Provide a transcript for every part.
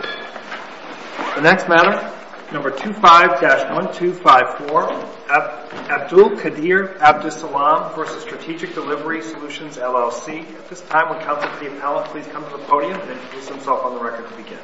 The next matter, number 25-1254 Abdul Qadir Abdisalam v. Strategic Delivery Solutions, LLC At this time, will Counselor C. Appellate please come to the podium and introduce himself on the record to begin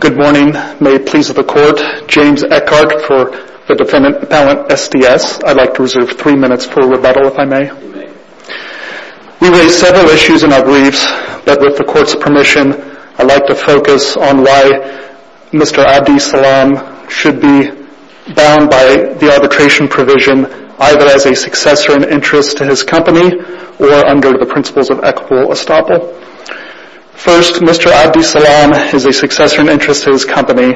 Good morning. May it please the Court, James Eckhardt for the Defendant Appellant SDS. I'd like to reserve three minutes for rebuttal if I may. We raise several issues in our briefs, but with the Court's permission, I'd like to focus on why Mr. Abdisalam should be bound by the arbitration provision either as a successor in interest to his company or under the principles of equitable estoppel. First, Mr. Abdisalam is a successor in interest to his company.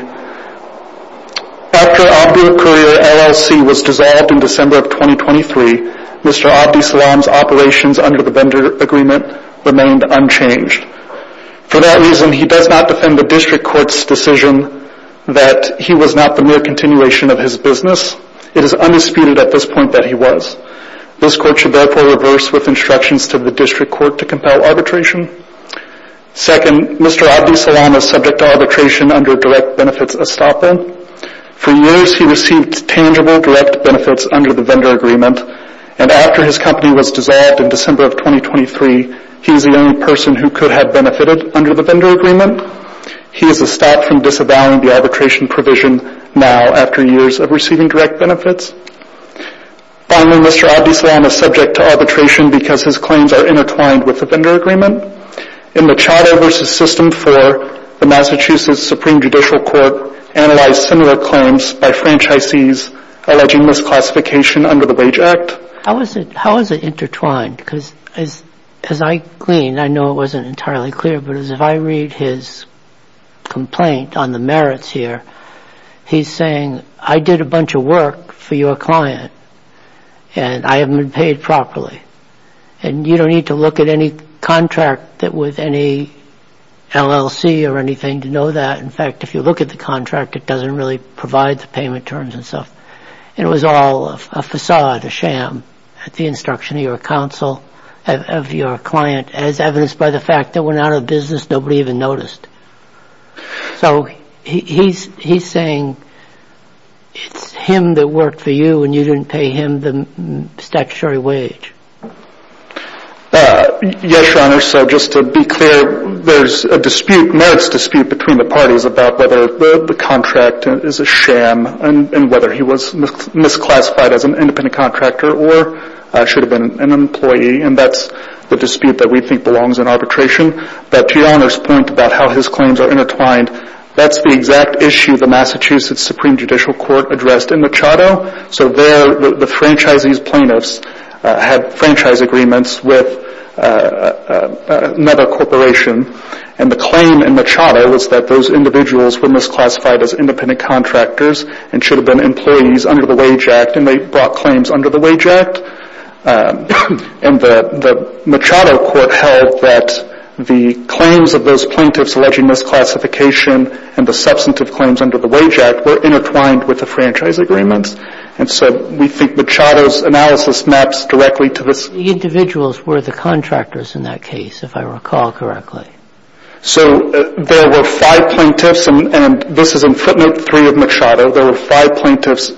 After Abdul Qadir LLC was dissolved in December of 2023, Mr. Abdisalam's operations under the vendor agreement remained unchanged. For that reason, he does not defend the District Court's decision that he was not the mere continuation of his business. It is undisputed at this point that he was. This Court should therefore reverse with instructions to the District Court to compel arbitration. Second, Mr. Abdisalam is subject to arbitration under direct benefits estoppel. For years, he received tangible direct benefits under the vendor agreement. After his company was dissolved in December of 2023, he was the only person who could have benefited under the vendor agreement. He is estopped from disavowing the arbitration provision now after years of receiving direct benefits. Finally, Mr. Abdisalam is subject to arbitration because his claims are intertwined with the vendor agreement. In the Charter v. System 4, the Massachusetts Supreme Judicial Court analyzed similar claims by franchisees alleging misclassification under the Wage Act. How is it intertwined? Because as I gleaned, I know it wasn't entirely clear, but as I read his complaint on the merits here, he's saying, I did a bunch of work for your client and I haven't been paid properly. And you don't need to look at any contract with any LLC or anything to know that. In fact, if you look at the contract, it doesn't really provide the payment terms and stuff. And it was all a facade, a sham at the instruction of your counsel, of your client, as evidenced by the fact that when out of business, nobody even noticed. So he's saying it's him that worked for you and you didn't pay him the statutory wage. Yes, Your Honor. So just to be clear, there's a dispute, merits dispute, between the parties about whether the contract is a sham and whether he was misclassified as an independent contractor or should have been an employee. And that's the dispute that we think belongs in arbitration. But Your Honor's point about how his claims are intertwined, that's the exact issue the Massachusetts Supreme Judicial Court addressed in Machado. So there, the franchisees plaintiffs had franchise agreements with another corporation and the claim in Machado was that those individuals were misclassified as independent contractors and should have been employees under the Wage Act. And they brought claims under the Wage Act. And the Machado court held that the claims of those plaintiffs alleging misclassification and the substantive claims under the Wage Act were intertwined with the franchise agreements. And so we think Machado's analysis maps directly to this. The individuals were the contractors in that case, if I recall correctly. So there were five plaintiffs, and this is in footnote three of Machado, there were five plaintiffs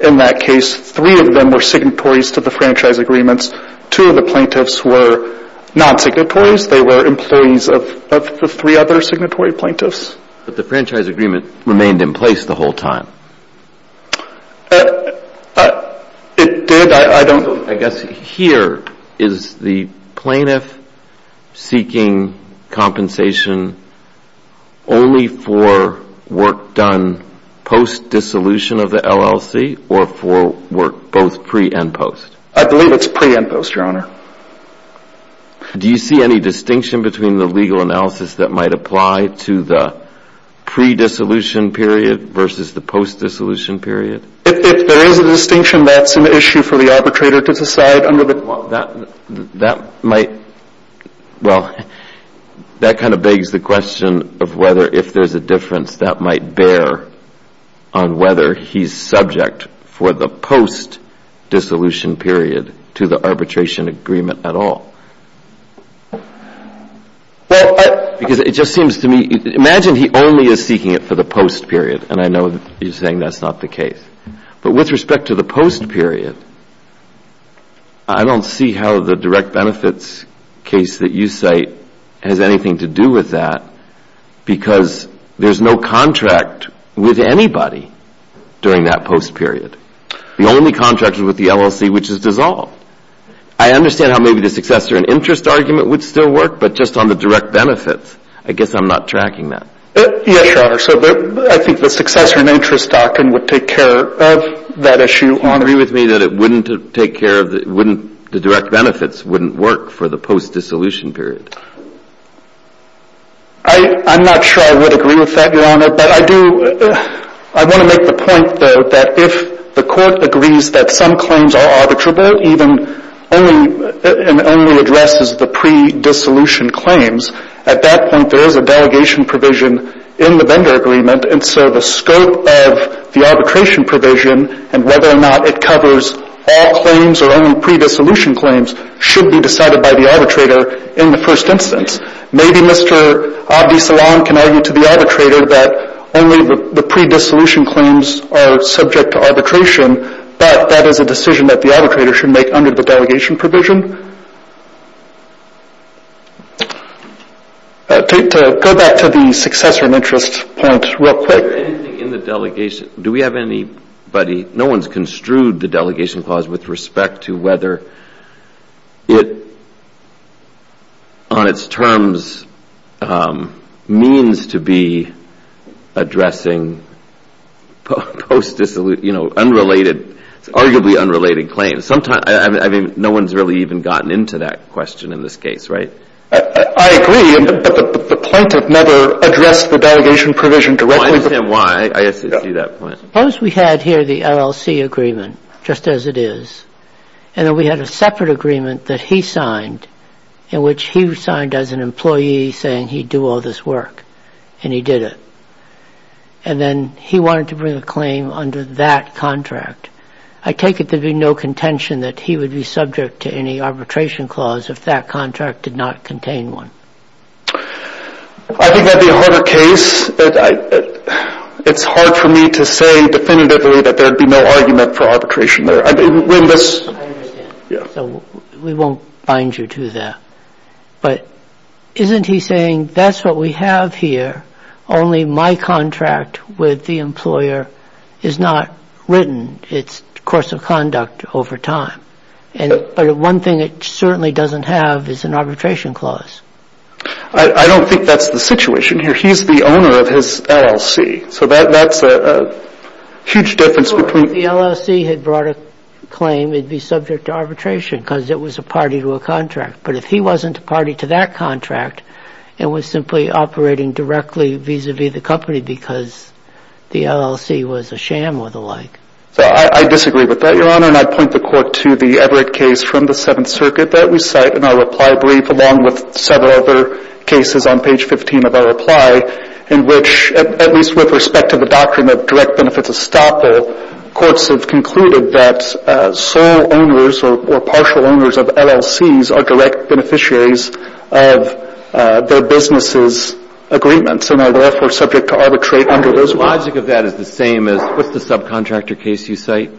in that case. Three of them were signatories to the franchise agreements. Two of the plaintiffs were non-signatories. They were employees of the three other signatory plaintiffs. But the franchise agreement remained in place the whole time. It did. I don't know. I guess here is the plaintiff seeking compensation only for work done post-dissolution of the LLC or for work both pre and post? I believe it's pre and post, Your Honor. Do you see any distinction between the legal analysis that might apply to the pre-dissolution period versus the post-dissolution period? If there is a distinction, that's an issue for the arbitrator to decide under the… Well, that kind of begs the question of whether if there's a difference that might bear on whether he's subject for the post-dissolution period to the arbitration agreement at all. Well, I… Because it just seems to me… Imagine he only is seeking it for the post-period, and I know you're saying that's not the case. But with respect to the post-period, I don't see how the direct benefits case that you cite has anything to do with that because there's no contract with anybody during that post-period. The only contract is with the LLC, which is dissolved. I understand how maybe the successor and interest argument would still work, but just on the direct benefits. I guess I'm not tracking that. Yes, Your Honor. So I think the successor and interest document would take care of that issue, Your Honor. Do you agree with me that it wouldn't take care of the – wouldn't – the direct benefits wouldn't work for the post-dissolution period? I'm not sure I would agree with that, Your Honor. But I do – I want to make the point, though, that if the Court agrees that some claims are arbitrable, even only – and only addresses the pre-dissolution claims, at that point there is a delegation provision in the vendor agreement. And so the scope of the arbitration provision and whether or not it covers all claims or only pre-dissolution claims should be decided by the arbitrator in the first instance. Maybe Mr. Abdi-Salam can argue to the arbitrator that only the pre-dissolution claims are subject to arbitration, but that is a decision that the arbitrator should make under the delegation provision. To go back to the successor and interest point real quick. Is there anything in the delegation – do we have anybody – no one's construed the delegation clause with respect to whether it, on its terms, means to be addressing post-dissolution – you know, unrelated – arguably unrelated claims. Sometimes – I mean, no one's really even gotten into that question in this case, right? I agree, but the plaintiff never addressed the delegation provision directly. I understand why. I see that point. Suppose we had here the LLC agreement, just as it is, and then we had a separate agreement that he signed, in which he signed as an employee saying he'd do all this work, and he did it. And then he wanted to bring a claim under that contract. I take it there'd be no contention that he would be subject to any arbitration clause if that contract did not contain one. I think that'd be a harder case. It's hard for me to say definitively that there'd be no argument for arbitration there. I understand. So we won't bind you to that. But isn't he saying that's what we have here, only my contract with the employer is not written? It's a course of conduct over time. But one thing it certainly doesn't have is an arbitration clause. I don't think that's the situation here. He's the owner of his LLC. So that's a huge difference between – Well, if the LLC had brought a claim, it'd be subject to arbitration because it was a party to a contract. But if he wasn't a party to that contract and was simply operating directly vis-à-vis the company because the LLC was a sham or the like. I disagree with that, Your Honor. And I point the Court to the Everett case from the Seventh Circuit that we cite in our reply brief, along with several other cases on page 15 of our reply, in which, at least with respect to the doctrine of direct benefits estoppel, courts have concluded that sole owners or partial owners of LLCs are direct beneficiaries of their businesses' agreements and are therefore subject to arbitrate under those rules. The logic of that is the same as what's the subcontractor case you cite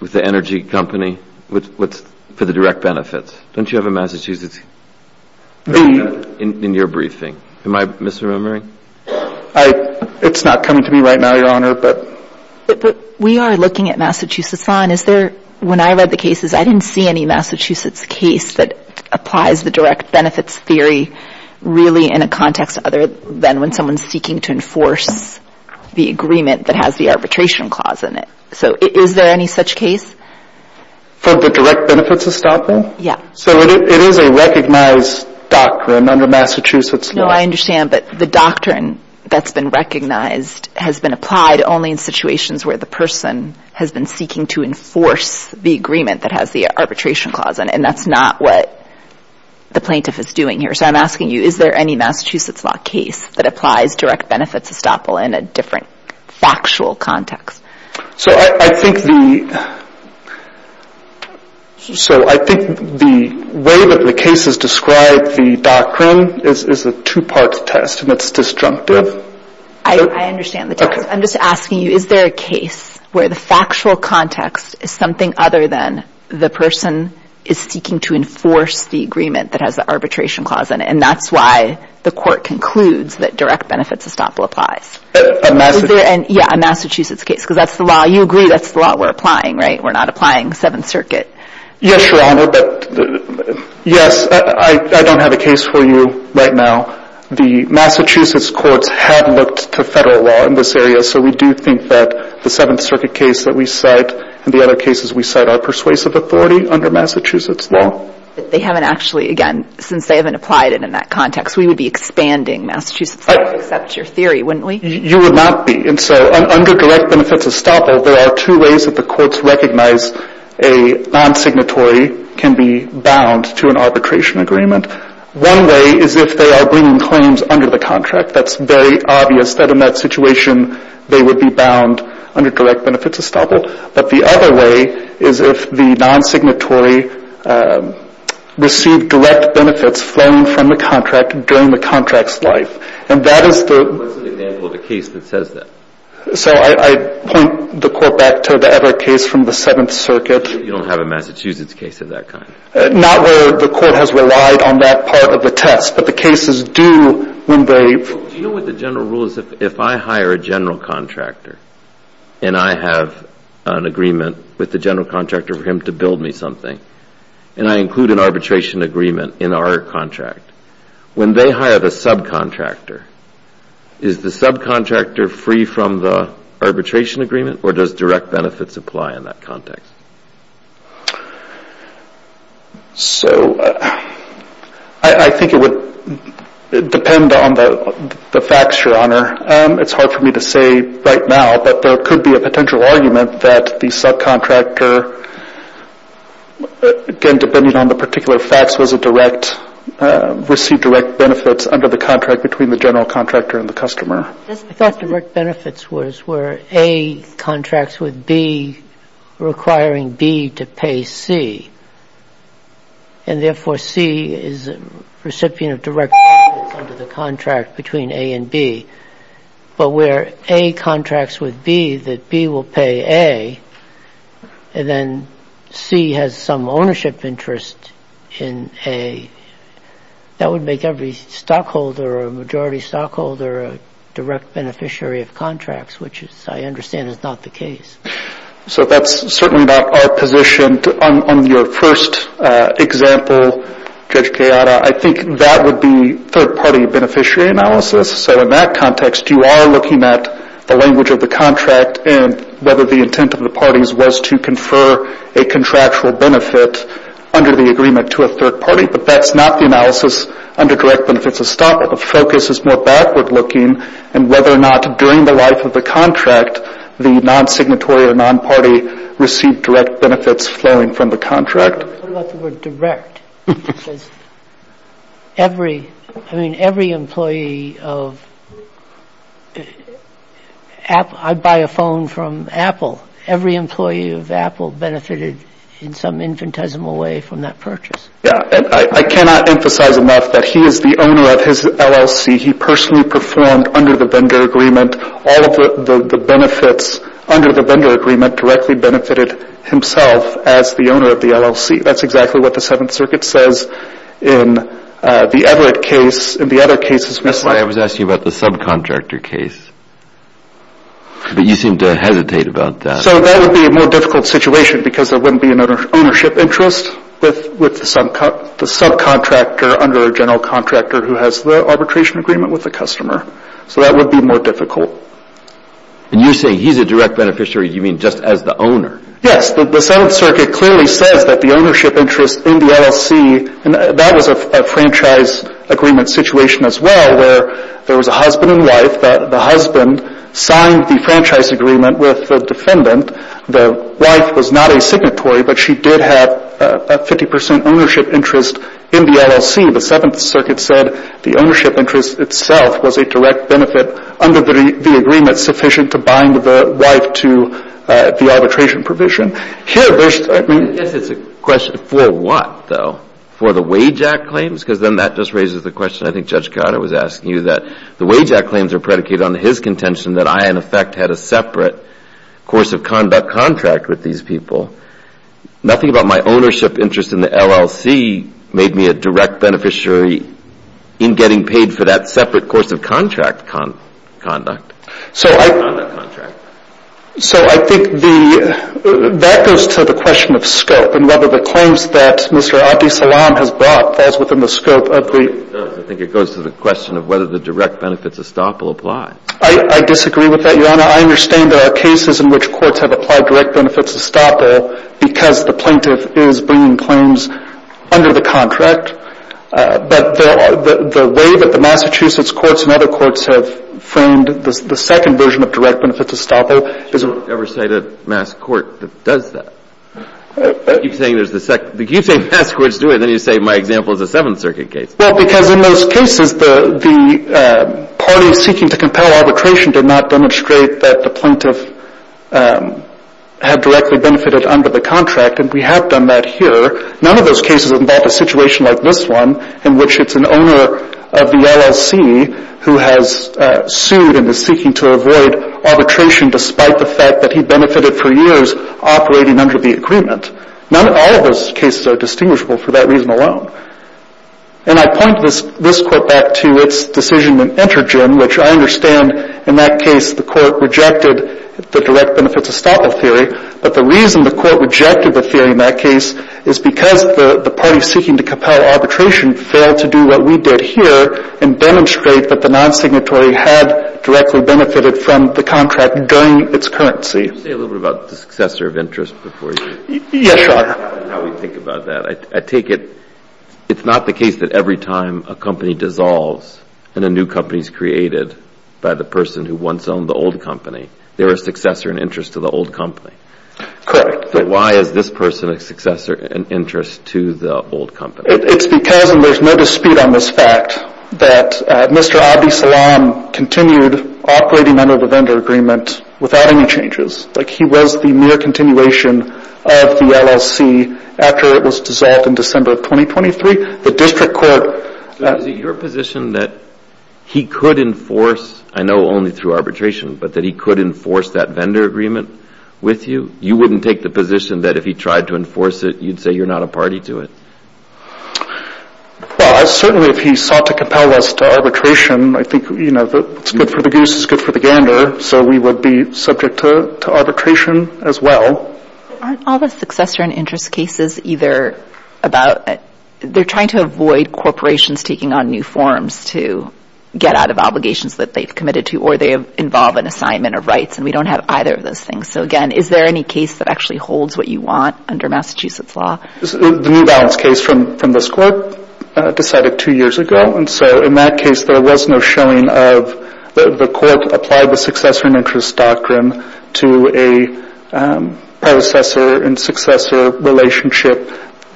with the energy company for the direct benefits? Don't you have a Massachusetts case in your briefing? Am I misremembering? It's not coming to me right now, Your Honor. But we are looking at Massachusetts law. And is there – when I read the cases, I didn't see any Massachusetts case that applies the direct benefits theory really in a context other than when someone's seeking to enforce the agreement that has the arbitration clause in it. So is there any such case? For the direct benefits estoppel? Yeah. So it is a recognized doctrine under Massachusetts law. No, I understand. But the doctrine that's been recognized has been applied only in situations where the person has been seeking to enforce the agreement that has the arbitration clause in it. And that's not what the plaintiff is doing here. So I'm asking you, is there any Massachusetts law case that applies direct benefits estoppel in a different factual context? So I think the – so I think the way that the cases describe the doctrine is a two-part test, and it's destructive. I understand the test. I'm just asking you, is there a case where the factual context is something other than the person is seeking to enforce the agreement that has the arbitration clause in it? And that's why the court concludes that direct benefits estoppel applies. Yeah, a Massachusetts case, because that's the law. You agree that's the law we're applying, right? We're not applying Seventh Circuit. Yes, Your Honor, but yes, I don't have a case for you right now. The Massachusetts courts have looked to Federal law in this area, so we do think that the Seventh Circuit case that we cite and the other cases we cite are persuasive authority under Massachusetts law. They haven't actually, again, since they haven't applied it in that context, we would be expanding Massachusetts law to accept your theory, wouldn't we? You would not be. And so under direct benefits estoppel, there are two ways that the courts recognize a non-signatory can be bound to an arbitration agreement. One way is if they are bringing claims under the contract. That's very obvious that in that situation they would be bound under direct benefits estoppel. But the other way is if the non-signatory received direct benefits flown from the contract during the contract's life. And that is the... What's an example of a case that says that? So I point the court back to the other case from the Seventh Circuit. You don't have a Massachusetts case of that kind? Not where the court has relied on that part of the test, but the cases do when they... Do you know what the general rule is? If I hire a general contractor and I have an agreement with the general contractor for him to build me something and I include an arbitration agreement in our contract, when they hire the subcontractor, is the subcontractor free from the arbitration agreement or does direct benefits apply in that context? So I think it would depend on the facts, Your Honor. It's hard for me to say right now, but there could be a potential argument that the subcontractor, again depending on the particular facts, was a direct, received direct benefits under the contract between the general contractor and the customer. I thought direct benefits was where A contracts with B requiring B to pay C, and therefore C is a recipient of direct benefits under the contract between A and B. But where A contracts with B that B will pay A, and then C has some ownership interest in A, that would make every stockholder or majority stockholder a direct beneficiary of contracts, which I understand is not the case. So that's certainly not our position on your first example, Judge Gallardo. I think that would be third-party beneficiary analysis. So in that context, you are looking at the language of the contract and whether the intent of the parties was to confer a contractual benefit under the agreement to a third party, but that's not the analysis under direct benefits of stockholders. The focus is more backward-looking and whether or not during the life of the contract, the non-signatory or non-party received direct benefits flowing from the contract. What about the word direct? Because every, I mean, every employee of, I buy a phone from Apple. Every employee of Apple benefited in some infinitesimal way from that purchase. Yeah, and I cannot emphasize enough that he is the owner of his LLC. He personally performed under the vendor agreement. All of the benefits under the vendor agreement directly benefited himself as the owner of the LLC. That's exactly what the Seventh Circuit says in the Everett case. In the other cases, Mr. May, I was asking you about the subcontractor case, but you seem to hesitate about that. So that would be a more difficult situation because there wouldn't be an ownership interest with the subcontractor under a general contractor who has the arbitration agreement with the customer. So that would be more difficult. And you say he's a direct beneficiary. You mean just as the owner? Yes. The Seventh Circuit clearly says that the ownership interest in the LLC, and that was a franchise agreement situation as well where there was a husband and wife, that the husband signed the franchise agreement with the defendant. The wife was not a signatory, but she did have a 50 percent ownership interest in the LLC. The Seventh Circuit said the ownership interest itself was a direct benefit under the agreement sufficient to bind the wife to the arbitration provision. Here, there's – I mean – I guess it's a question for what, though? For the wage act claims? Because then that just raises the question I think Judge Carter was asking you, that the wage act claims are predicated on his contention that I, in effect, had a separate course of conduct contract with these people. Nothing about my ownership interest in the LLC made me a direct beneficiary in getting paid for that separate course of contract conduct. So I think the – that goes to the question of scope and whether the claims that Mr. Abdi Salaam has brought falls within the scope of the – It does. I think it goes to the question of whether the direct benefits estoppel apply. I disagree with that, Your Honor. I understand there are cases in which courts have applied direct benefits estoppel because the plaintiff is bringing claims under the contract. But the way that the Massachusetts courts and other courts have framed the second version of direct benefits estoppel is – I don't ever cite a mass court that does that. You keep saying mass courts do it, and then you say my example is a Seventh Circuit case. Well, because in most cases the parties seeking to compel arbitration did not demonstrate that the plaintiff had directly benefited under the contract, and we have done that here. None of those cases involve a situation like this one in which it's an owner of the LLC who has sued and is seeking to avoid arbitration despite the fact that he benefited for years operating under the agreement. None – all of those cases are distinguishable for that reason alone. And I point this court back to its decision in Entergen, which I understand in that case the court rejected the direct benefits estoppel theory. But the reason the court rejected the theory in that case is because the parties seeking to compel arbitration failed to do what we did here and demonstrate that the non-signatory had directly benefited from the contract during its currency. Can you say a little bit about the successor of interest before you – Yes, Your Honor. – how we think about that? I take it it's not the case that every time a company dissolves and a new company is created by the person who once owned the old company, they're a successor in interest to the old company. Correct. But why is this person a successor in interest to the old company? It's because, and there's no dispute on this fact, that Mr. Abdi Salam continued operating under the vendor agreement without any changes. Like, he was the mere continuation of the LLC after it was dissolved in December of 2023. The district court – Is it your position that he could enforce – I know only through arbitration – but that he could enforce that vendor agreement with you? You wouldn't take the position that if he tried to enforce it, you'd say you're not a party to it? Well, certainly if he sought to compel us to arbitration, I think, you know, it's good for the goose, it's good for the gander, so we would be subject to arbitration as well. Aren't all the successor in interest cases either about – they're trying to avoid corporations taking on new forms to get out of obligations that they've committed to or they involve an assignment of rights, and we don't have either of those things. So, again, is there any case that actually holds what you want under Massachusetts law? The New Balance case from this court decided two years ago, and so in that case there was no showing of – the court applied the successor in interest doctrine to a predecessor and successor relationship.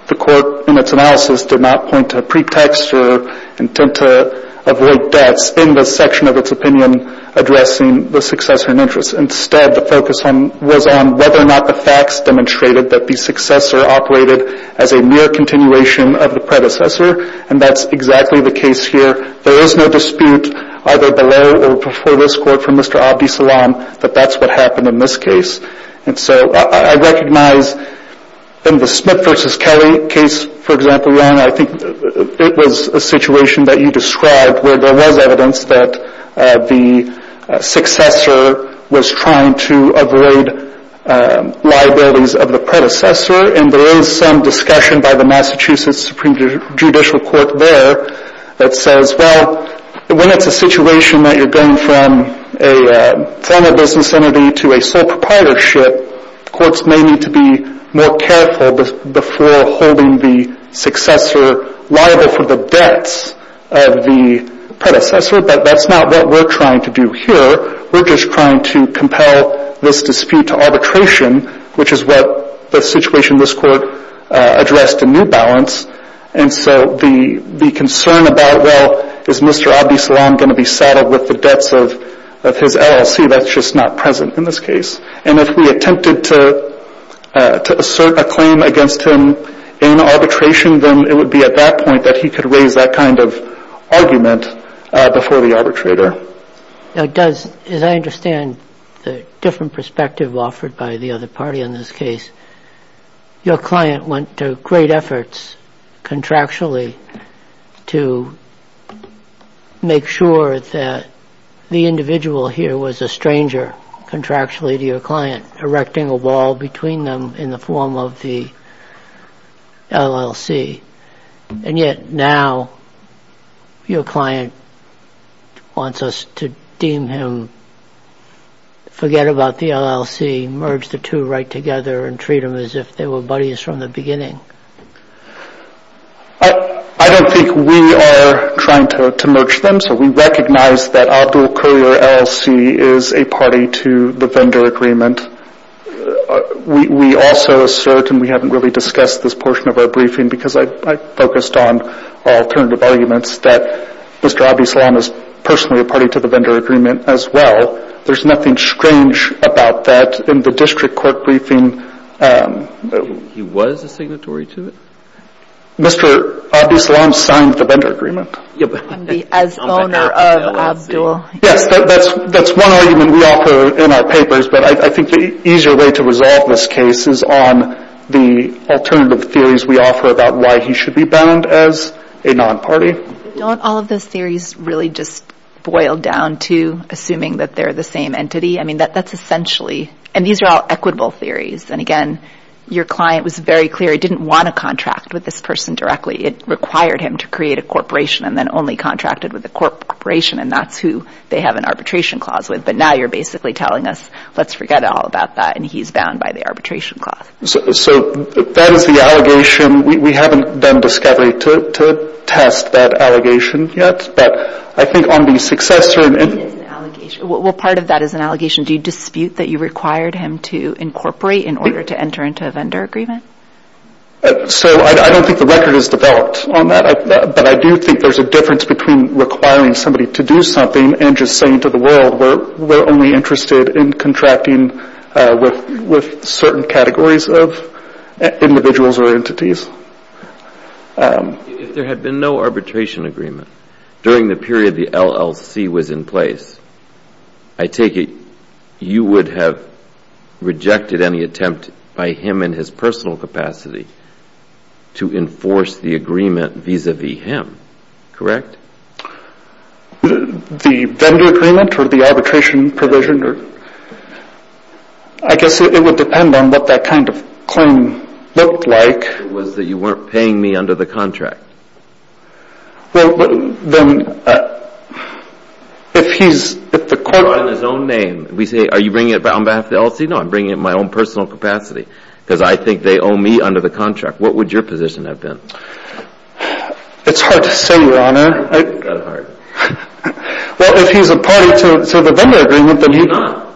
The court in its analysis did not point to a pretext or intent to avoid deaths in the section of its opinion addressing the successor in interest. Instead, the focus was on whether or not the facts demonstrated that the successor operated as a mere continuation of the predecessor, and that's exactly the case here. There is no dispute either below or before this court from Mr. Abdi Salam that that's what happened in this case. And so I recognize in the Smith v. Kelly case, for example, it was a situation that you described where there was evidence that the successor was trying to avoid liabilities of the predecessor, and there is some discussion by the Massachusetts Supreme Judicial Court there that says, well, when it's a situation that you're going from a former business entity to a sole proprietorship, courts may need to be more careful before holding the successor liable for the debts of the predecessor, but that's not what we're trying to do here. We're just trying to compel this dispute to arbitration, which is what the situation in this court addressed in New Balance. And so the concern about, well, is Mr. Abdi Salam going to be saddled with the debts of his LLC, that's just not present in this case. And if we attempted to assert a claim against him in arbitration, then it would be at that point that he could raise that kind of argument before the arbitrator. Now, as I understand the different perspective offered by the other party on this case, your client went to great efforts contractually to make sure that the individual here was a stranger contractually to your client, erecting a wall between them in the form of the LLC. And yet now your client wants us to deem him, forget about the LLC, merge the two right together and treat them as if they were buddies from the beginning. I don't think we are trying to merge them. So we recognize that Abdul Kurir LLC is a party to the vendor agreement. We also assert, and we haven't really discussed this portion of our briefing because I focused on alternative arguments that Mr. Abdi Salam is personally a party to the vendor agreement as well. There's nothing strange about that in the district court briefing. He was a signatory to it? Mr. Abdi Salam signed the vendor agreement. As owner of Abdul. Yes, that's one argument we offer in our papers, but I think the easier way to resolve this case is on the alternative theories we offer about why he should be bound as a non-party. Don't all of those theories really just boil down to assuming that they're the same entity? I mean, that's essentially, and these are all equitable theories. And again, your client was very clear he didn't want to contract with this person directly. It required him to create a corporation and then only contracted with the corporation, and that's who they have an arbitration clause with. But now you're basically telling us, let's forget all about that, and he's bound by the arbitration clause. So that is the allegation. We haven't done discovery to test that allegation yet, but I think on the successor. Well, part of that is an allegation. Do you dispute that you required him to incorporate in order to enter into a vendor agreement? So I don't think the record is developed on that, but I do think there's a difference between requiring somebody to do something and just saying to the world we're only interested in contracting with certain categories of individuals or entities. If there had been no arbitration agreement during the period the LLC was in place, I take it you would have rejected any attempt by him in his personal capacity to enforce the agreement vis-à-vis him. Correct? The vendor agreement or the arbitration provision, I guess it would depend on what that kind of claim looked like. It was that you weren't paying me under the contract. Well, then, if he's – Drawing his own name, we say, are you bringing it on behalf of the LLC? No, I'm bringing it in my own personal capacity because I think they owe me under the contract. What would your position have been? It's hard to say, Your Honor. It's kind of hard. Well, if he's a party to the vendor agreement, then he – He's not.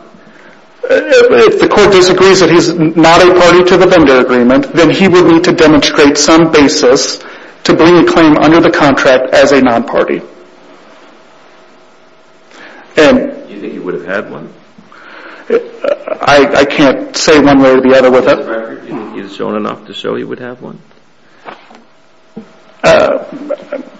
If the court disagrees that he's not a party to the vendor agreement, then he would need to demonstrate some basis to bring a claim under the contract as a non-party. Do you think he would have had one? I can't say one way or the other with it. Do you think he's shown enough to show he would have one?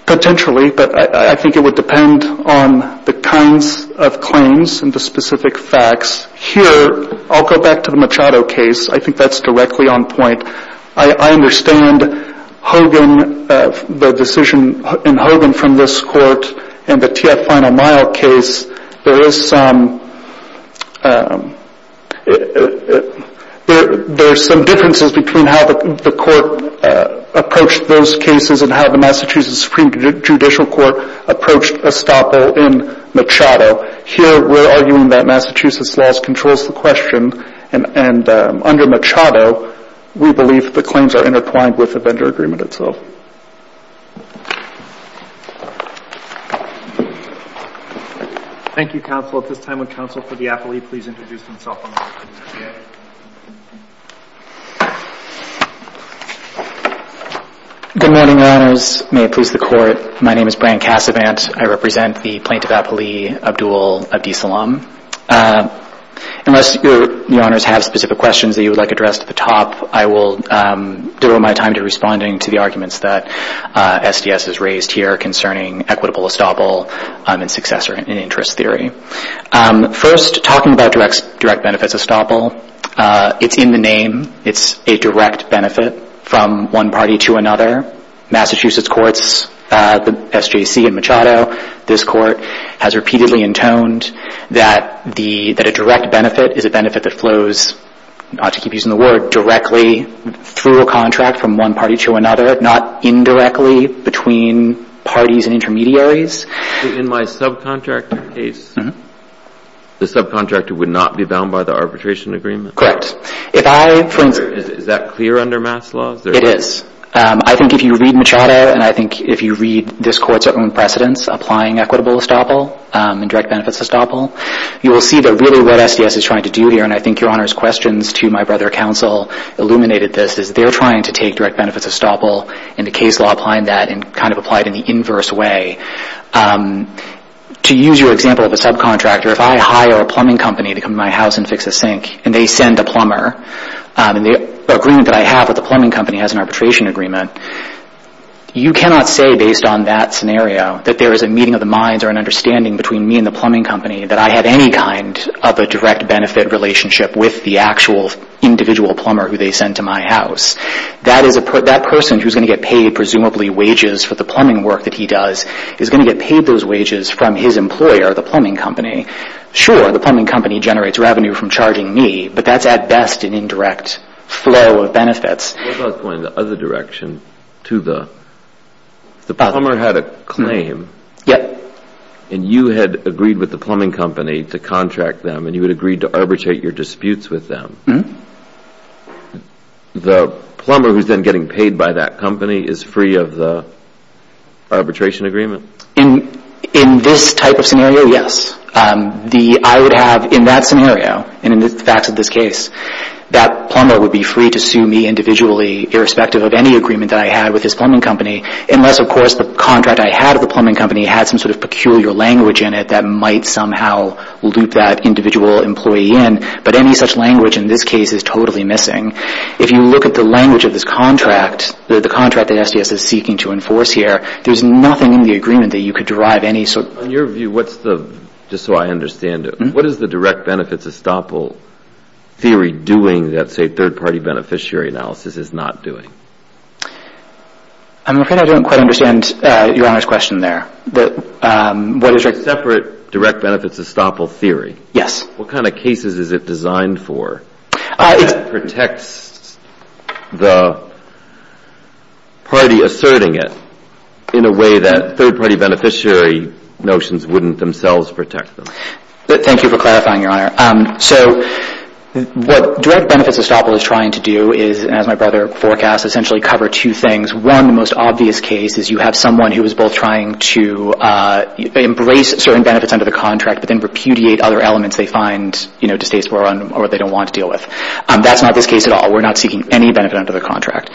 Potentially, but I think it would depend on the kinds of claims and the specific facts. Here, I'll go back to the Machado case. I think that's directly on point. I understand Hogan, the decision in Hogan from this court, and the TF Final Mile case. There is some – there are some differences between how the court approached those cases and how the Massachusetts Supreme Judicial Court approached Estoppel in Machado. Here, we're arguing that Massachusetts laws controls the question, and under Machado, we believe the claims are intertwined with the vendor agreement itself. Thank you, counsel. At this time, would counsel for the appellee please introduce himself on the record? Good morning, Your Honors. May it please the Court. My name is Brian Cassavant. I represent the plaintiff appellee, Abdul Abdeslam. Unless Your Honors have specific questions that you would like addressed at the top, I will devote my time to responding to the arguments that SDS has raised here concerning equitable Estoppel and successor in interest theory. First, talking about direct benefits of Estoppel, it's in the name. It's a direct benefit from one party to another. Massachusetts courts, the SJC in Machado, this court, has repeatedly intoned that the – that a direct benefit is a benefit that flows, to keep using the word, directly through a contract from one party to another, not indirectly between parties and intermediaries. In my subcontractor case, the subcontractor would not be bound by the arbitration agreement? Correct. If I – Is that clear under MAS laws? It is. I think if you read Machado, and I think if you read this court's own precedence, applying equitable Estoppel and direct benefits of Estoppel, you will see that really what SDS is trying to do here, and I think Your Honor's questions to my brother counsel illuminated this, is they're trying to take direct benefits of Estoppel and the case law applying that and kind of apply it in the inverse way. To use your example of a subcontractor, if I hire a plumbing company to come to my house and fix a sink, and they send a plumber, and the agreement that I have with the plumbing company has an arbitration agreement, you cannot say based on that scenario that there is a meeting of the minds or an understanding between me and the plumbing company that I have any kind of a direct benefit relationship with the actual individual plumber who they send to my house. That person who's going to get paid presumably wages for the plumbing work that he does is going to get paid those wages from his employer, the plumbing company. Sure, the plumbing company generates revenue from charging me, but that's at best an indirect flow of benefits. What about going the other direction? If the plumber had a claim, and you had agreed with the plumbing company to contract them, and you had agreed to arbitrate your disputes with them, the plumber who's then getting paid by that company is free of the arbitration agreement? In this type of scenario, yes. I would have, in that scenario, and in the facts of this case, that plumber would be free to sue me individually irrespective of any agreement that I had with this plumbing company, unless, of course, the contract I had with the plumbing company had some sort of peculiar language in it that might somehow loop that individual employee in, but any such language in this case is totally missing. If you look at the language of this contract, the contract that SDS is seeking to enforce here, there's nothing in the agreement that you could derive any sort of... On your view, just so I understand it, what is the direct benefits estoppel theory doing that, say, third-party beneficiary analysis is not doing? I'm afraid I don't quite understand Your Honor's question there. It's a separate direct benefits estoppel theory? Yes. What kind of cases is it designed for? It protects the party asserting it in a way that third-party beneficiary notions wouldn't themselves protect them. Thank you for clarifying, Your Honor. So what direct benefits estoppel is trying to do is, as my brother forecasts, essentially cover two things. One, the most obvious case is you have someone who is both trying to embrace certain benefits under the contract but then repudiate other elements they find distasteful or they don't want to deal with. That's not this case at all. We're not seeking any benefit under the contract.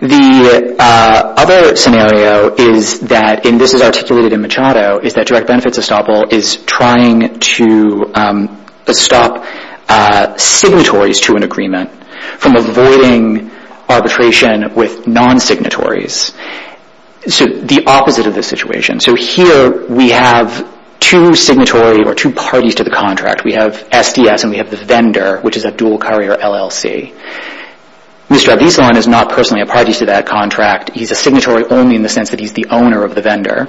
The other scenario is that, and this is articulated in Machado, is that direct benefits estoppel is trying to stop signatories to an agreement from avoiding arbitration with non-signatories. So the opposite of this situation. So here we have two signatory or two parties to the contract. We have SDS and we have the vendor, which is a dual carrier LLC. Mr. Abdisalan is not personally a party to that contract. He's a signatory only in the sense that he's the owner of the vendor.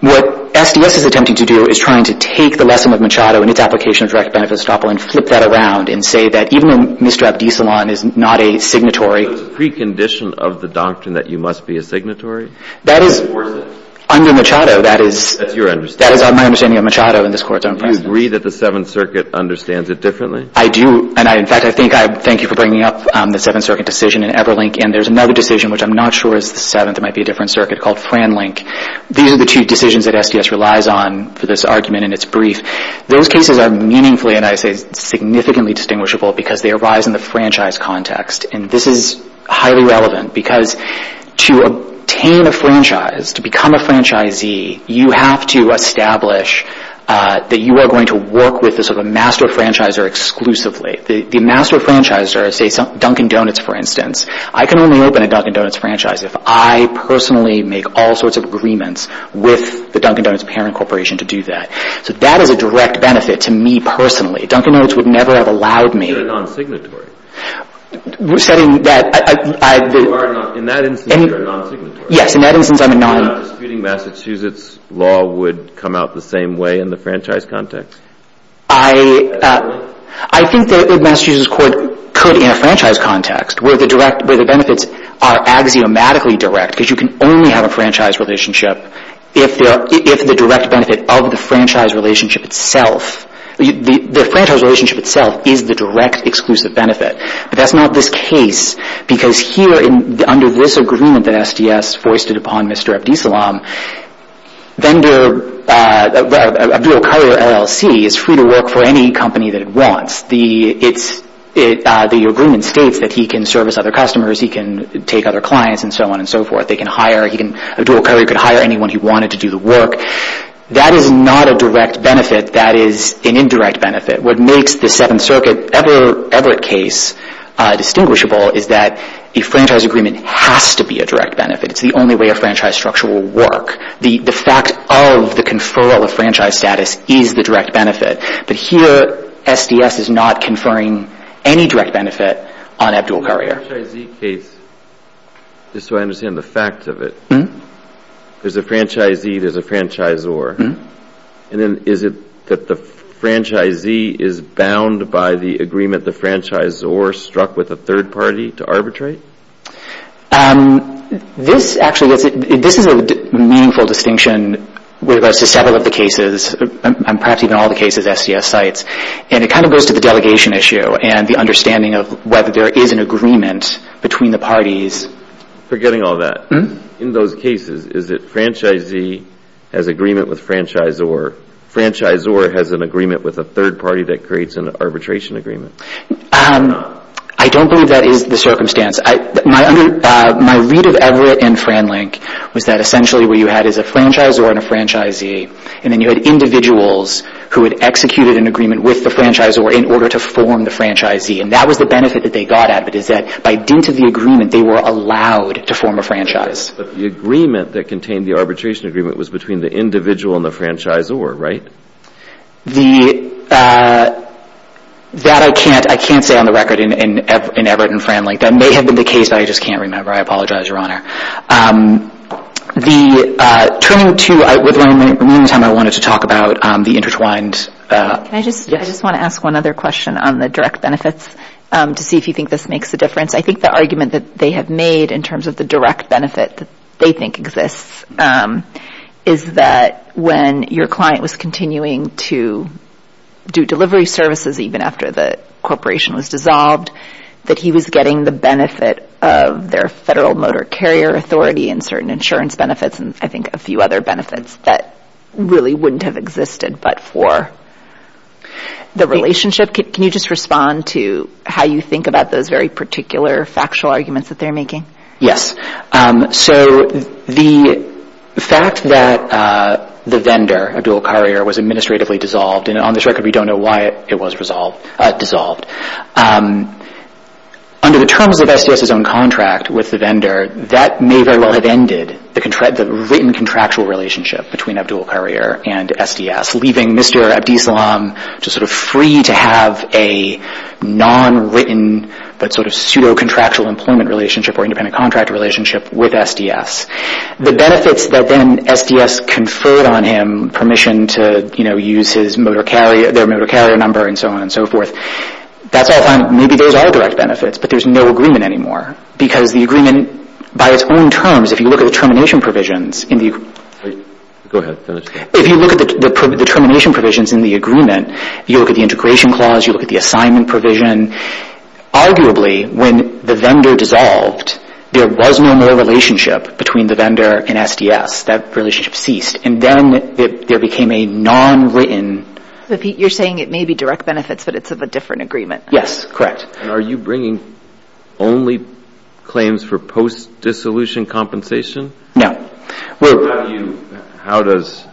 What SDS is attempting to do is trying to take the lesson of Machado and its application of direct benefits estoppel and flip that around and say that even though Mr. Abdisalan is not a signatory So it's a precondition of the doctrine that you must be a signatory? That is under Machado. That's your understanding. That is my understanding of Machado and this Court's own precedent. Do you agree that the Seventh Circuit understands it differently? I do. In fact, I thank you for bringing up the Seventh Circuit decision in Everlink. And there's another decision, which I'm not sure is the Seventh, it might be a different circuit, called Franlink. These are the two decisions that SDS relies on for this argument in its brief. Those cases are meaningfully, and I say significantly, distinguishable because they arise in the franchise context. And this is highly relevant because to obtain a franchise, to become a franchisee, you have to establish that you are going to work with a master franchisor exclusively. The master franchisor, say Dunkin' Donuts, for instance, I can only open a Dunkin' Donuts franchise if I personally make all sorts of agreements with the Dunkin' Donuts parent corporation to do that. So that is a direct benefit to me personally. Dunkin' Donuts would never have allowed me. You're a non-signatory. We're saying that I... In that instance, you're a non-signatory. Yes, in that instance, I'm a non... You're not disputing Massachusetts law would come out the same way in the franchise context? I think that Massachusetts court could in a franchise context where the direct... where the benefits are axiomatically direct because you can only have a franchise relationship if the direct benefit of the franchise relationship itself... the franchise relationship itself is the direct exclusive benefit. But that's not this case because here under this agreement that SDS foisted upon Mr. Abdisalam, vendor... a dual carrier LLC is free to work for any company that it wants. The agreement states that he can service other customers, he can take other clients, and so on and so forth. They can hire... A dual carrier could hire anyone he wanted to do the work. That is not a direct benefit. That is an indirect benefit. What makes the Seventh Circuit Everett case distinguishable is that a franchise agreement has to be a direct benefit. It's the only way a franchise structure will work. The fact of the conferral of franchise status is the direct benefit. But here SDS is not conferring any direct benefit on a dual carrier. In the franchisee case, just so I understand the facts of it, there's a franchisee, there's a franchisor. And then is it that the franchisee is bound by the agreement the franchisor struck with a third party to arbitrate? This actually gets... This is a meaningful distinction with regards to several of the cases, and perhaps even all the cases SDS cites. And it kind of goes to the delegation issue and the understanding of whether there is an agreement between the parties. Forgetting all that, in those cases, is it franchisee has agreement with franchisor, franchisor has an agreement with a third party that creates an arbitration agreement? I don't believe that is the circumstance. My read of Everett and FranLink was that essentially what you had is a franchisor and a franchisee, and then you had individuals who had executed an agreement with the franchisor in order to form the franchisee. And that was the benefit that they got out of it, is that by dint of the agreement, they were allowed to form a franchise. But the agreement that contained the arbitration agreement was between the individual and the franchisor, right? That I can't say on the record in Everett and FranLink. That may have been the case, but I just can't remember. I apologize, Your Honor. Turning to, with my remaining time, I wanted to talk about the intertwined... I just want to ask one other question on the direct benefits to see if you think this makes a difference. I think the argument that they have made in terms of the direct benefit that they think exists is that when your client was continuing to do delivery services even after the corporation was dissolved, that he was getting the benefit of their federal motor carrier authority and certain insurance benefits, and I think a few other benefits that really wouldn't have existed but for the relationship. Can you just respond to how you think about those very particular factual arguments that they're making? Yes. So the fact that the vendor, a dual carrier, was administratively dissolved, and on this record we don't know why it was dissolved, under the terms of SDS's own contract with the vendor, that may very well have ended the written contractual relationship between Abdul Courier and SDS, leaving Mr. Abdislam free to have a non-written but sort of pseudo-contractual employment relationship or independent contract relationship with SDS. The benefits that then SDS conferred on him, permission to use their motor carrier number and so on and so forth, that's all fine. Maybe those are direct benefits, but there's no agreement anymore because the agreement by its own terms, if you look at the termination provisions in the agreement, if you look at the termination provisions in the agreement, you look at the integration clause, you look at the assignment provision, arguably when the vendor dissolved, there was no more relationship between the vendor and SDS. That relationship ceased, and then there became a non-written... You're saying it may be direct benefits, but it's of a different agreement. Yes, correct. Are you bringing only claims for post-dissolution compensation? No. How does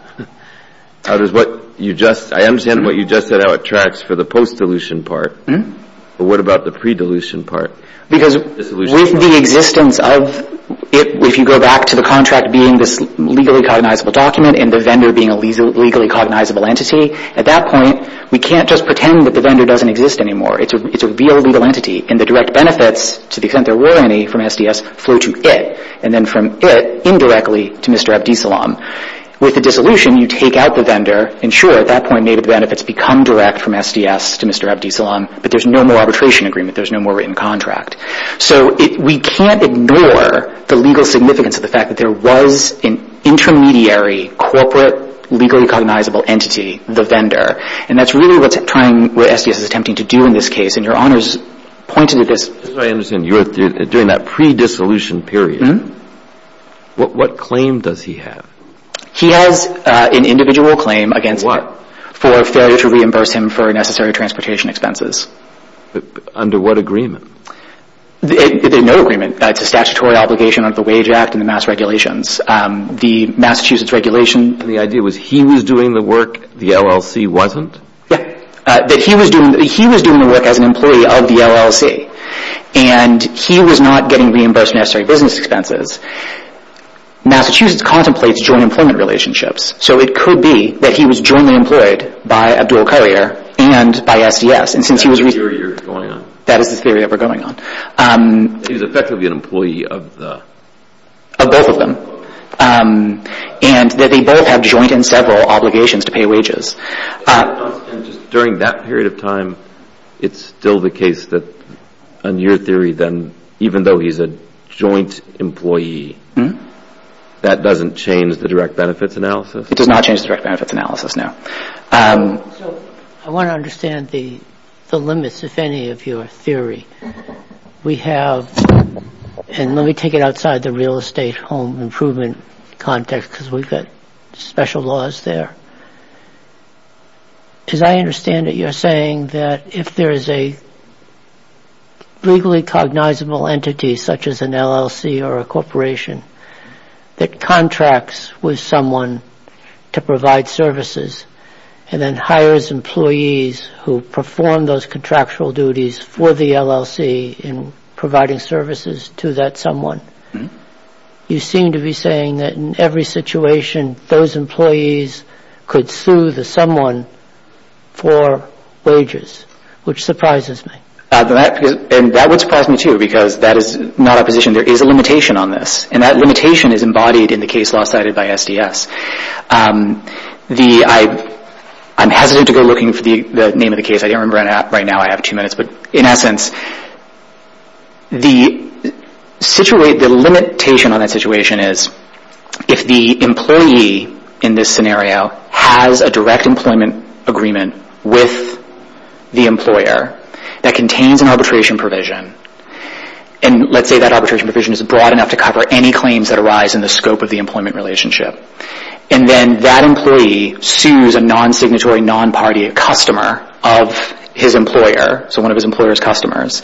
what you just... I understand what you just said how it tracks for the post-dilution part, but what about the pre-dilution part? Because with the existence of it, if you go back to the contract being this legally cognizable document and the vendor being a legally cognizable entity, at that point we can't just pretend that the vendor doesn't exist anymore. It's a real legal entity, and the direct benefits, to the extent there were any from SDS, flow to it, and then from it indirectly to Mr. Abdisalaam. With the dissolution, you take out the vendor, and sure, at that point maybe the benefits become direct from SDS to Mr. Abdisalaam, but there's no more arbitration agreement. There's no more written contract. So we can't ignore the legal significance of the fact that there was an intermediary corporate legally cognizable entity, the vendor, and that's really what SDS is attempting to do in this case, and Your Honors pointed to this... This is what I understand. You're doing that pre-dissolution period. Mm-hmm. What claim does he have? He has an individual claim against him. For what? For failure to reimburse him for necessary transportation expenses. Under what agreement? No agreement. It's a statutory obligation under the Wage Act and the Mass Regulations. The Massachusetts Regulation... And the idea was he was doing the work, the LLC wasn't? Yeah, that he was doing the work as an employee of the LLC, and he was not getting reimbursed for necessary business expenses. Massachusetts contemplates joint employment relationships, so it could be that he was jointly employed by Abdul Courier and by SDS, and since he was... That's the theory you're going on. That is the theory that we're going on. He was effectively an employee of the... Of both of them. And that they both have joint and several obligations to pay wages. During that period of time, it's still the case that, in your theory, then even though he's a joint employee, that doesn't change the direct benefits analysis? It does not change the direct benefits analysis, no. So I want to understand the limits, if any, of your theory. We have... And let me take it outside the real estate home improvement context, because we've got special laws there. Because I understand that you're saying that if there is a legally cognizable entity, such as an LLC or a corporation, that contracts with someone to provide services, and then hires employees who perform those contractual duties for the LLC in providing services to that someone, you seem to be saying that in every situation, those employees could sue the someone for wages, which surprises me. And that would surprise me, too, because that is not our position. There is a limitation on this, and that limitation is embodied in the case law cited by SDS. I'm hesitant to go looking for the name of the case. I don't remember right now. I have two minutes. But in essence, the limitation on that situation is if the employee in this scenario has a direct employment agreement with the employer that contains an arbitration provision, and let's say that arbitration provision is broad enough to cover any claims that arise in the scope of the employment relationship, and then that employee sues a non-signatory, non-party customer of his employer, so one of his employer's customers,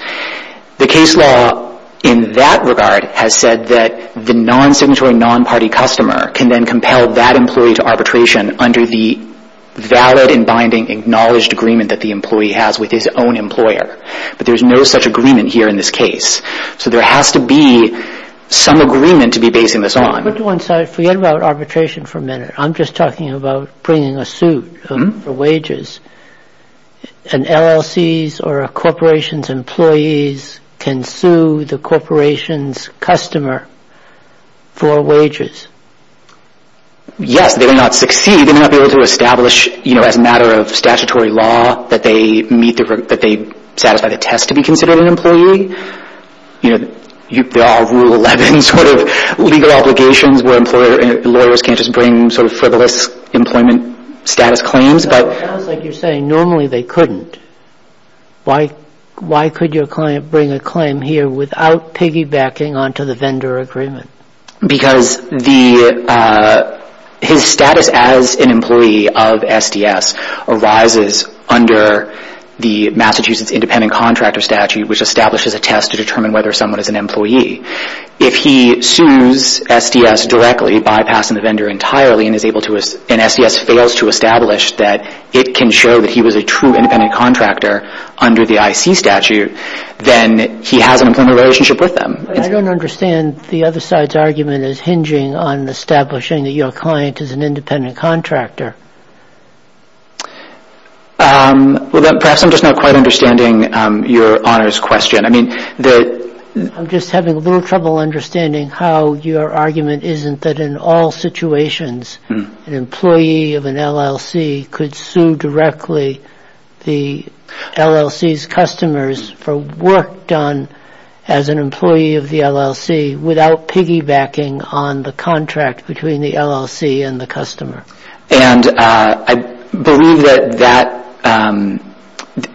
the case law in that regard has said that the non-signatory, non-party customer can then compel that employee to arbitration under the valid and binding acknowledged agreement that the employee has with his own employer. But there is no such agreement here in this case. So there has to be some agreement to be basing this on. But once I forget about arbitration for a minute, I'm just talking about bringing a suit for wages. And LLCs or a corporation's employees can sue the corporation's customer for wages. Yes, they will not succeed. They will not be able to establish, you know, as a matter of statutory law, that they satisfy the test to be considered an employee. You know, there are Rule 11 sort of legal obligations where lawyers can't just bring sort of frivolous employment status claims. But it sounds like you're saying normally they couldn't. Why could your client bring a claim here without piggybacking onto the vendor agreement? Because his status as an employee of SDS arises under the Massachusetts Independent Contractor Statute, which establishes a test to determine whether someone is an employee. If he sues SDS directly, bypassing the vendor entirely, and SDS fails to establish that it can show that he was a true independent contractor under the IC statute, then he has an employment relationship with them. I don't understand the other side's argument is hinging on establishing that your client is an independent contractor. Well, then perhaps I'm just not quite understanding your honors question. I mean that... I'm just having a little trouble understanding how your argument isn't that in all situations an employee of an LLC could sue directly the LLC's customers for work done as an employee of the LLC without piggybacking on the contract between the LLC and the customer. And I believe that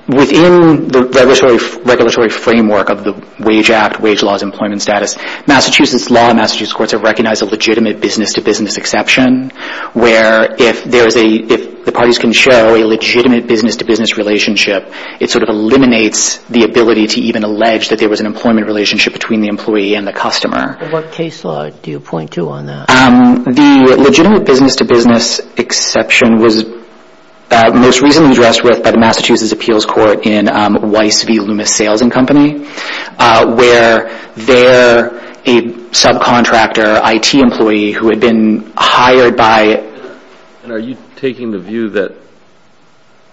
within the regulatory framework of the Wage Act, wage laws, employment status, Massachusetts law and Massachusetts courts have recognized a legitimate business-to-business exception where if the parties can show a legitimate business-to-business relationship, it sort of eliminates the ability to even allege that there was an employment relationship between the employee and the customer. What case law do you point to on that? The legitimate business-to-business exception was most recently addressed with by the Massachusetts Appeals Court in Weiss v. Loomis Sales & Company where they're a subcontractor IT employee who had been hired by... And are you taking the view that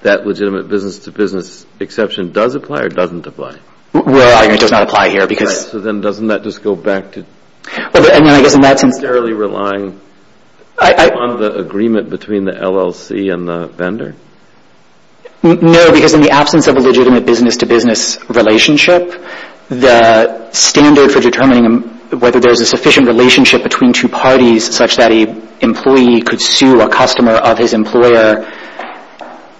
that legitimate business-to-business exception does apply or doesn't apply? Well, our argument does not apply here because... Right, so then doesn't that just go back to... Well, I mean, I guess in that sense... ...sterilely relying on the agreement between the LLC and the vendor? No, because in the absence of a legitimate business-to-business relationship, the standard for determining whether there's a sufficient relationship between two parties such that an employee could sue a customer of his employer.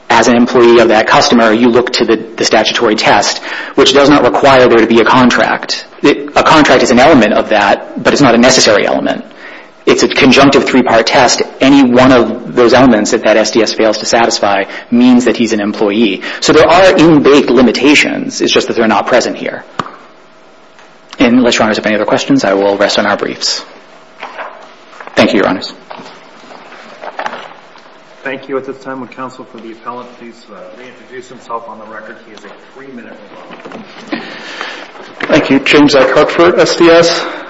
As an employee of that customer, you look to the statutory test, which does not require there to be a contract. A contract is an element of that, but it's not a necessary element. It's a conjunctive three-part test. Any one of those elements that that SDS fails to satisfy means that he's an employee. So there are in-bake limitations. It's just that they're not present here. Unless Your Honors have any other questions, I will rest on our briefs. Thank you, Your Honors. Thank you. At this time, would counsel for the appellant please reintroduce himself on the record? He has a three-minute rebuttal. Thank you. James Eckert for SDS.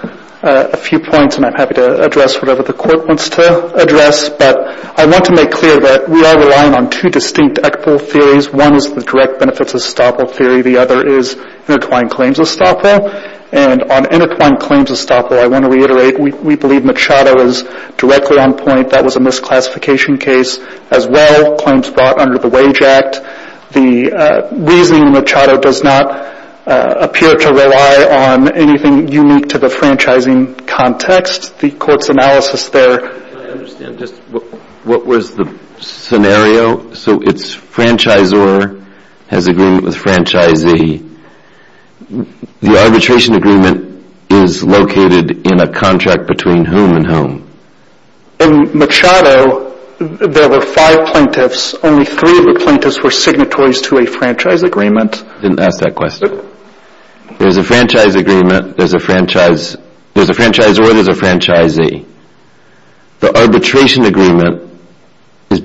A few points, and I'm happy to address whatever the court wants to address, but I want to make clear that we are relying on two distinct ECCPL theories. One is the direct benefits of Staple theory. The other is intertwined claims of Staple. And on intertwined claims of Staple, I want to reiterate we believe Machado is directly on point. That was a misclassification case as well, claims brought under the Wage Act. The reasoning in Machado does not appear to rely on anything unique to the franchising context. The court's analysis there. Can I understand just what was the scenario? Machado, so it's franchisor has agreement with franchisee. The arbitration agreement is located in a contract between whom and whom? In Machado, there were five plaintiffs. Only three of the plaintiffs were signatories to a franchise agreement. I didn't ask that question. There's a franchise agreement, there's a franchise, there's a franchisor, there's a franchisee. The arbitration agreement is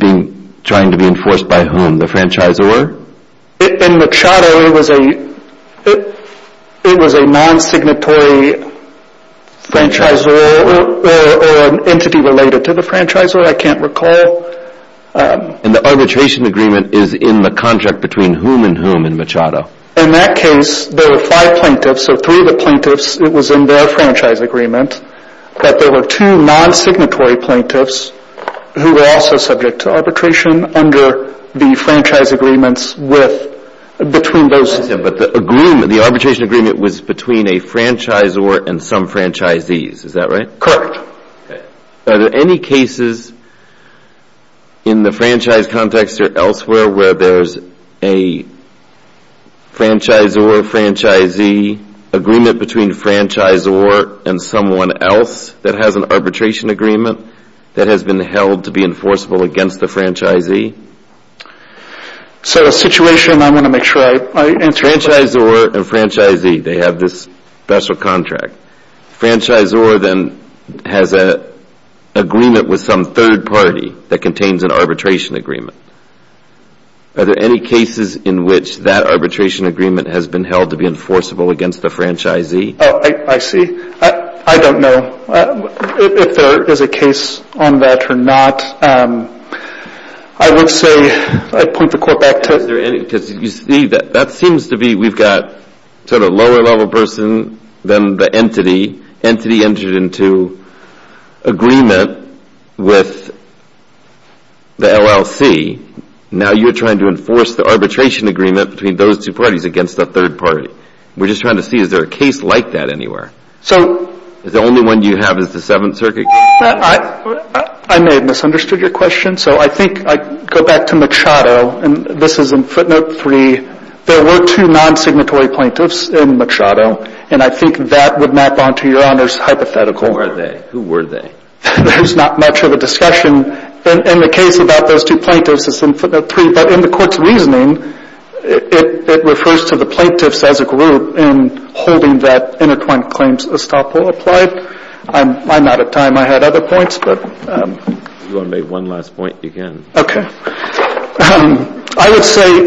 trying to be enforced by whom? The franchisor? In Machado, it was a non-signatory franchisor or an entity related to the franchisor. I can't recall. And the arbitration agreement is in the contract between whom and whom in Machado? In that case, there were five plaintiffs, so three of the plaintiffs, it was in their franchise agreement that there were two non-signatory plaintiffs who were also subject to arbitration under the franchise agreements between those. But the arbitration agreement was between a franchisor and some franchisees, is that right? Correct. Are there any cases in the franchise context or elsewhere where there's a franchisor-franchisee agreement between franchisor and someone else that has an arbitration agreement that has been held to be enforceable against the franchisee? So a situation, I want to make sure I answer your question. Franchisor and franchisee, they have this special contract. Franchisor then has an agreement with some third party that contains an arbitration agreement. Are there any cases in which that arbitration agreement has been held to be enforceable against the franchisee? Oh, I see. I don't know if there is a case on that or not. I would say I'd point the court back to... That seems to be we've got sort of lower level person than the entity. Entity entered into agreement with the LLC. Now you're trying to enforce the arbitration agreement between those two parties against the third party. We're just trying to see is there a case like that anywhere? Is the only one you have is the Seventh Circuit case? I may have misunderstood your question. So I think I go back to Machado. And this is in footnote three. There were two non-signatory plaintiffs in Machado. And I think that would map onto Your Honor's hypothetical. Who were they? There's not much of a discussion. In the case about those two plaintiffs, it's in footnote three. But in the court's reasoning, it refers to the plaintiffs as a group and holding that intertwined claims estoppel applied. I'm out of time. I had other points. If you want to make one last point, you can. I would say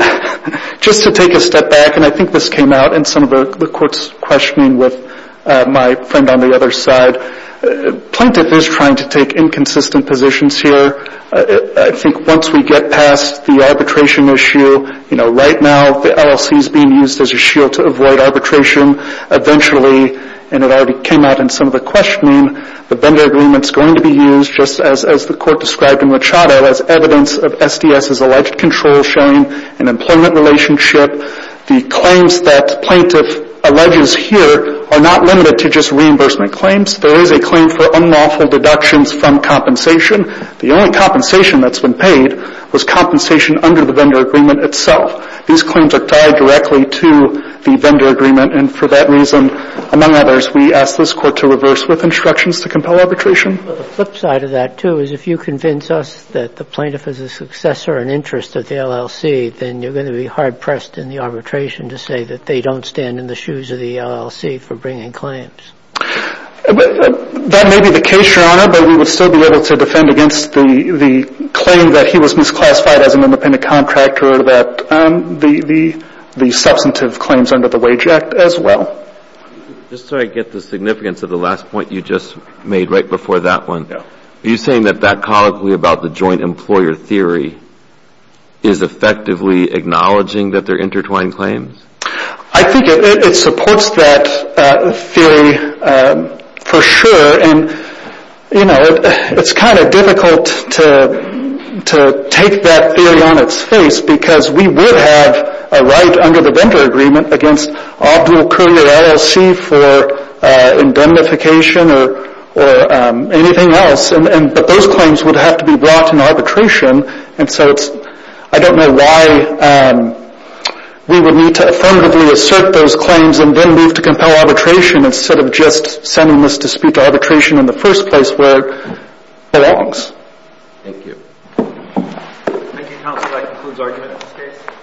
just to take a step back, and I think this came out in some of the court's questioning with my friend on the other side, plaintiff is trying to take inconsistent positions here. I think once we get past the arbitration issue, you know, right now the LLC is being used as a shield to avoid arbitration. Eventually, and it already came out in some of the questioning, the vendor agreement's going to be used, just as the court described in Machado, as evidence of SDS's alleged control sharing and employment relationship. The claims that plaintiff alleges here are not limited to just reimbursement claims. There is a claim for unlawful deductions from compensation. The only compensation that's been paid was compensation under the vendor agreement itself. These claims are tied directly to the vendor agreement, and for that reason, among others, we ask this Court to reverse with instructions to compel arbitration. But the flip side of that, too, is if you convince us that the plaintiff is a successor in interest of the LLC, then you're going to be hard-pressed in the arbitration to say that they don't stand in the shoes of the LLC for bringing claims. That may be the case, Your Honor, but we would still be able to defend against the claim that he was misclassified as an independent contractor that the substantive claims under the Wage Act as well. Just so I get the significance of the last point you just made right before that one, are you saying that that colloquy about the joint employer theory is effectively acknowledging that they're intertwined claims? I think it supports that theory for sure, and it's kind of difficult to take that theory on its face because we would have a right under the vendor agreement against optimal career LLC for indemnification or anything else, but those claims would have to be brought in arbitration. And so I don't know why we would need to affirmatively assert those claims and then move to compel arbitration instead of just sending this dispute to arbitration in the first place where it belongs. Thank you. Thank you, counsel. That concludes argument in this case.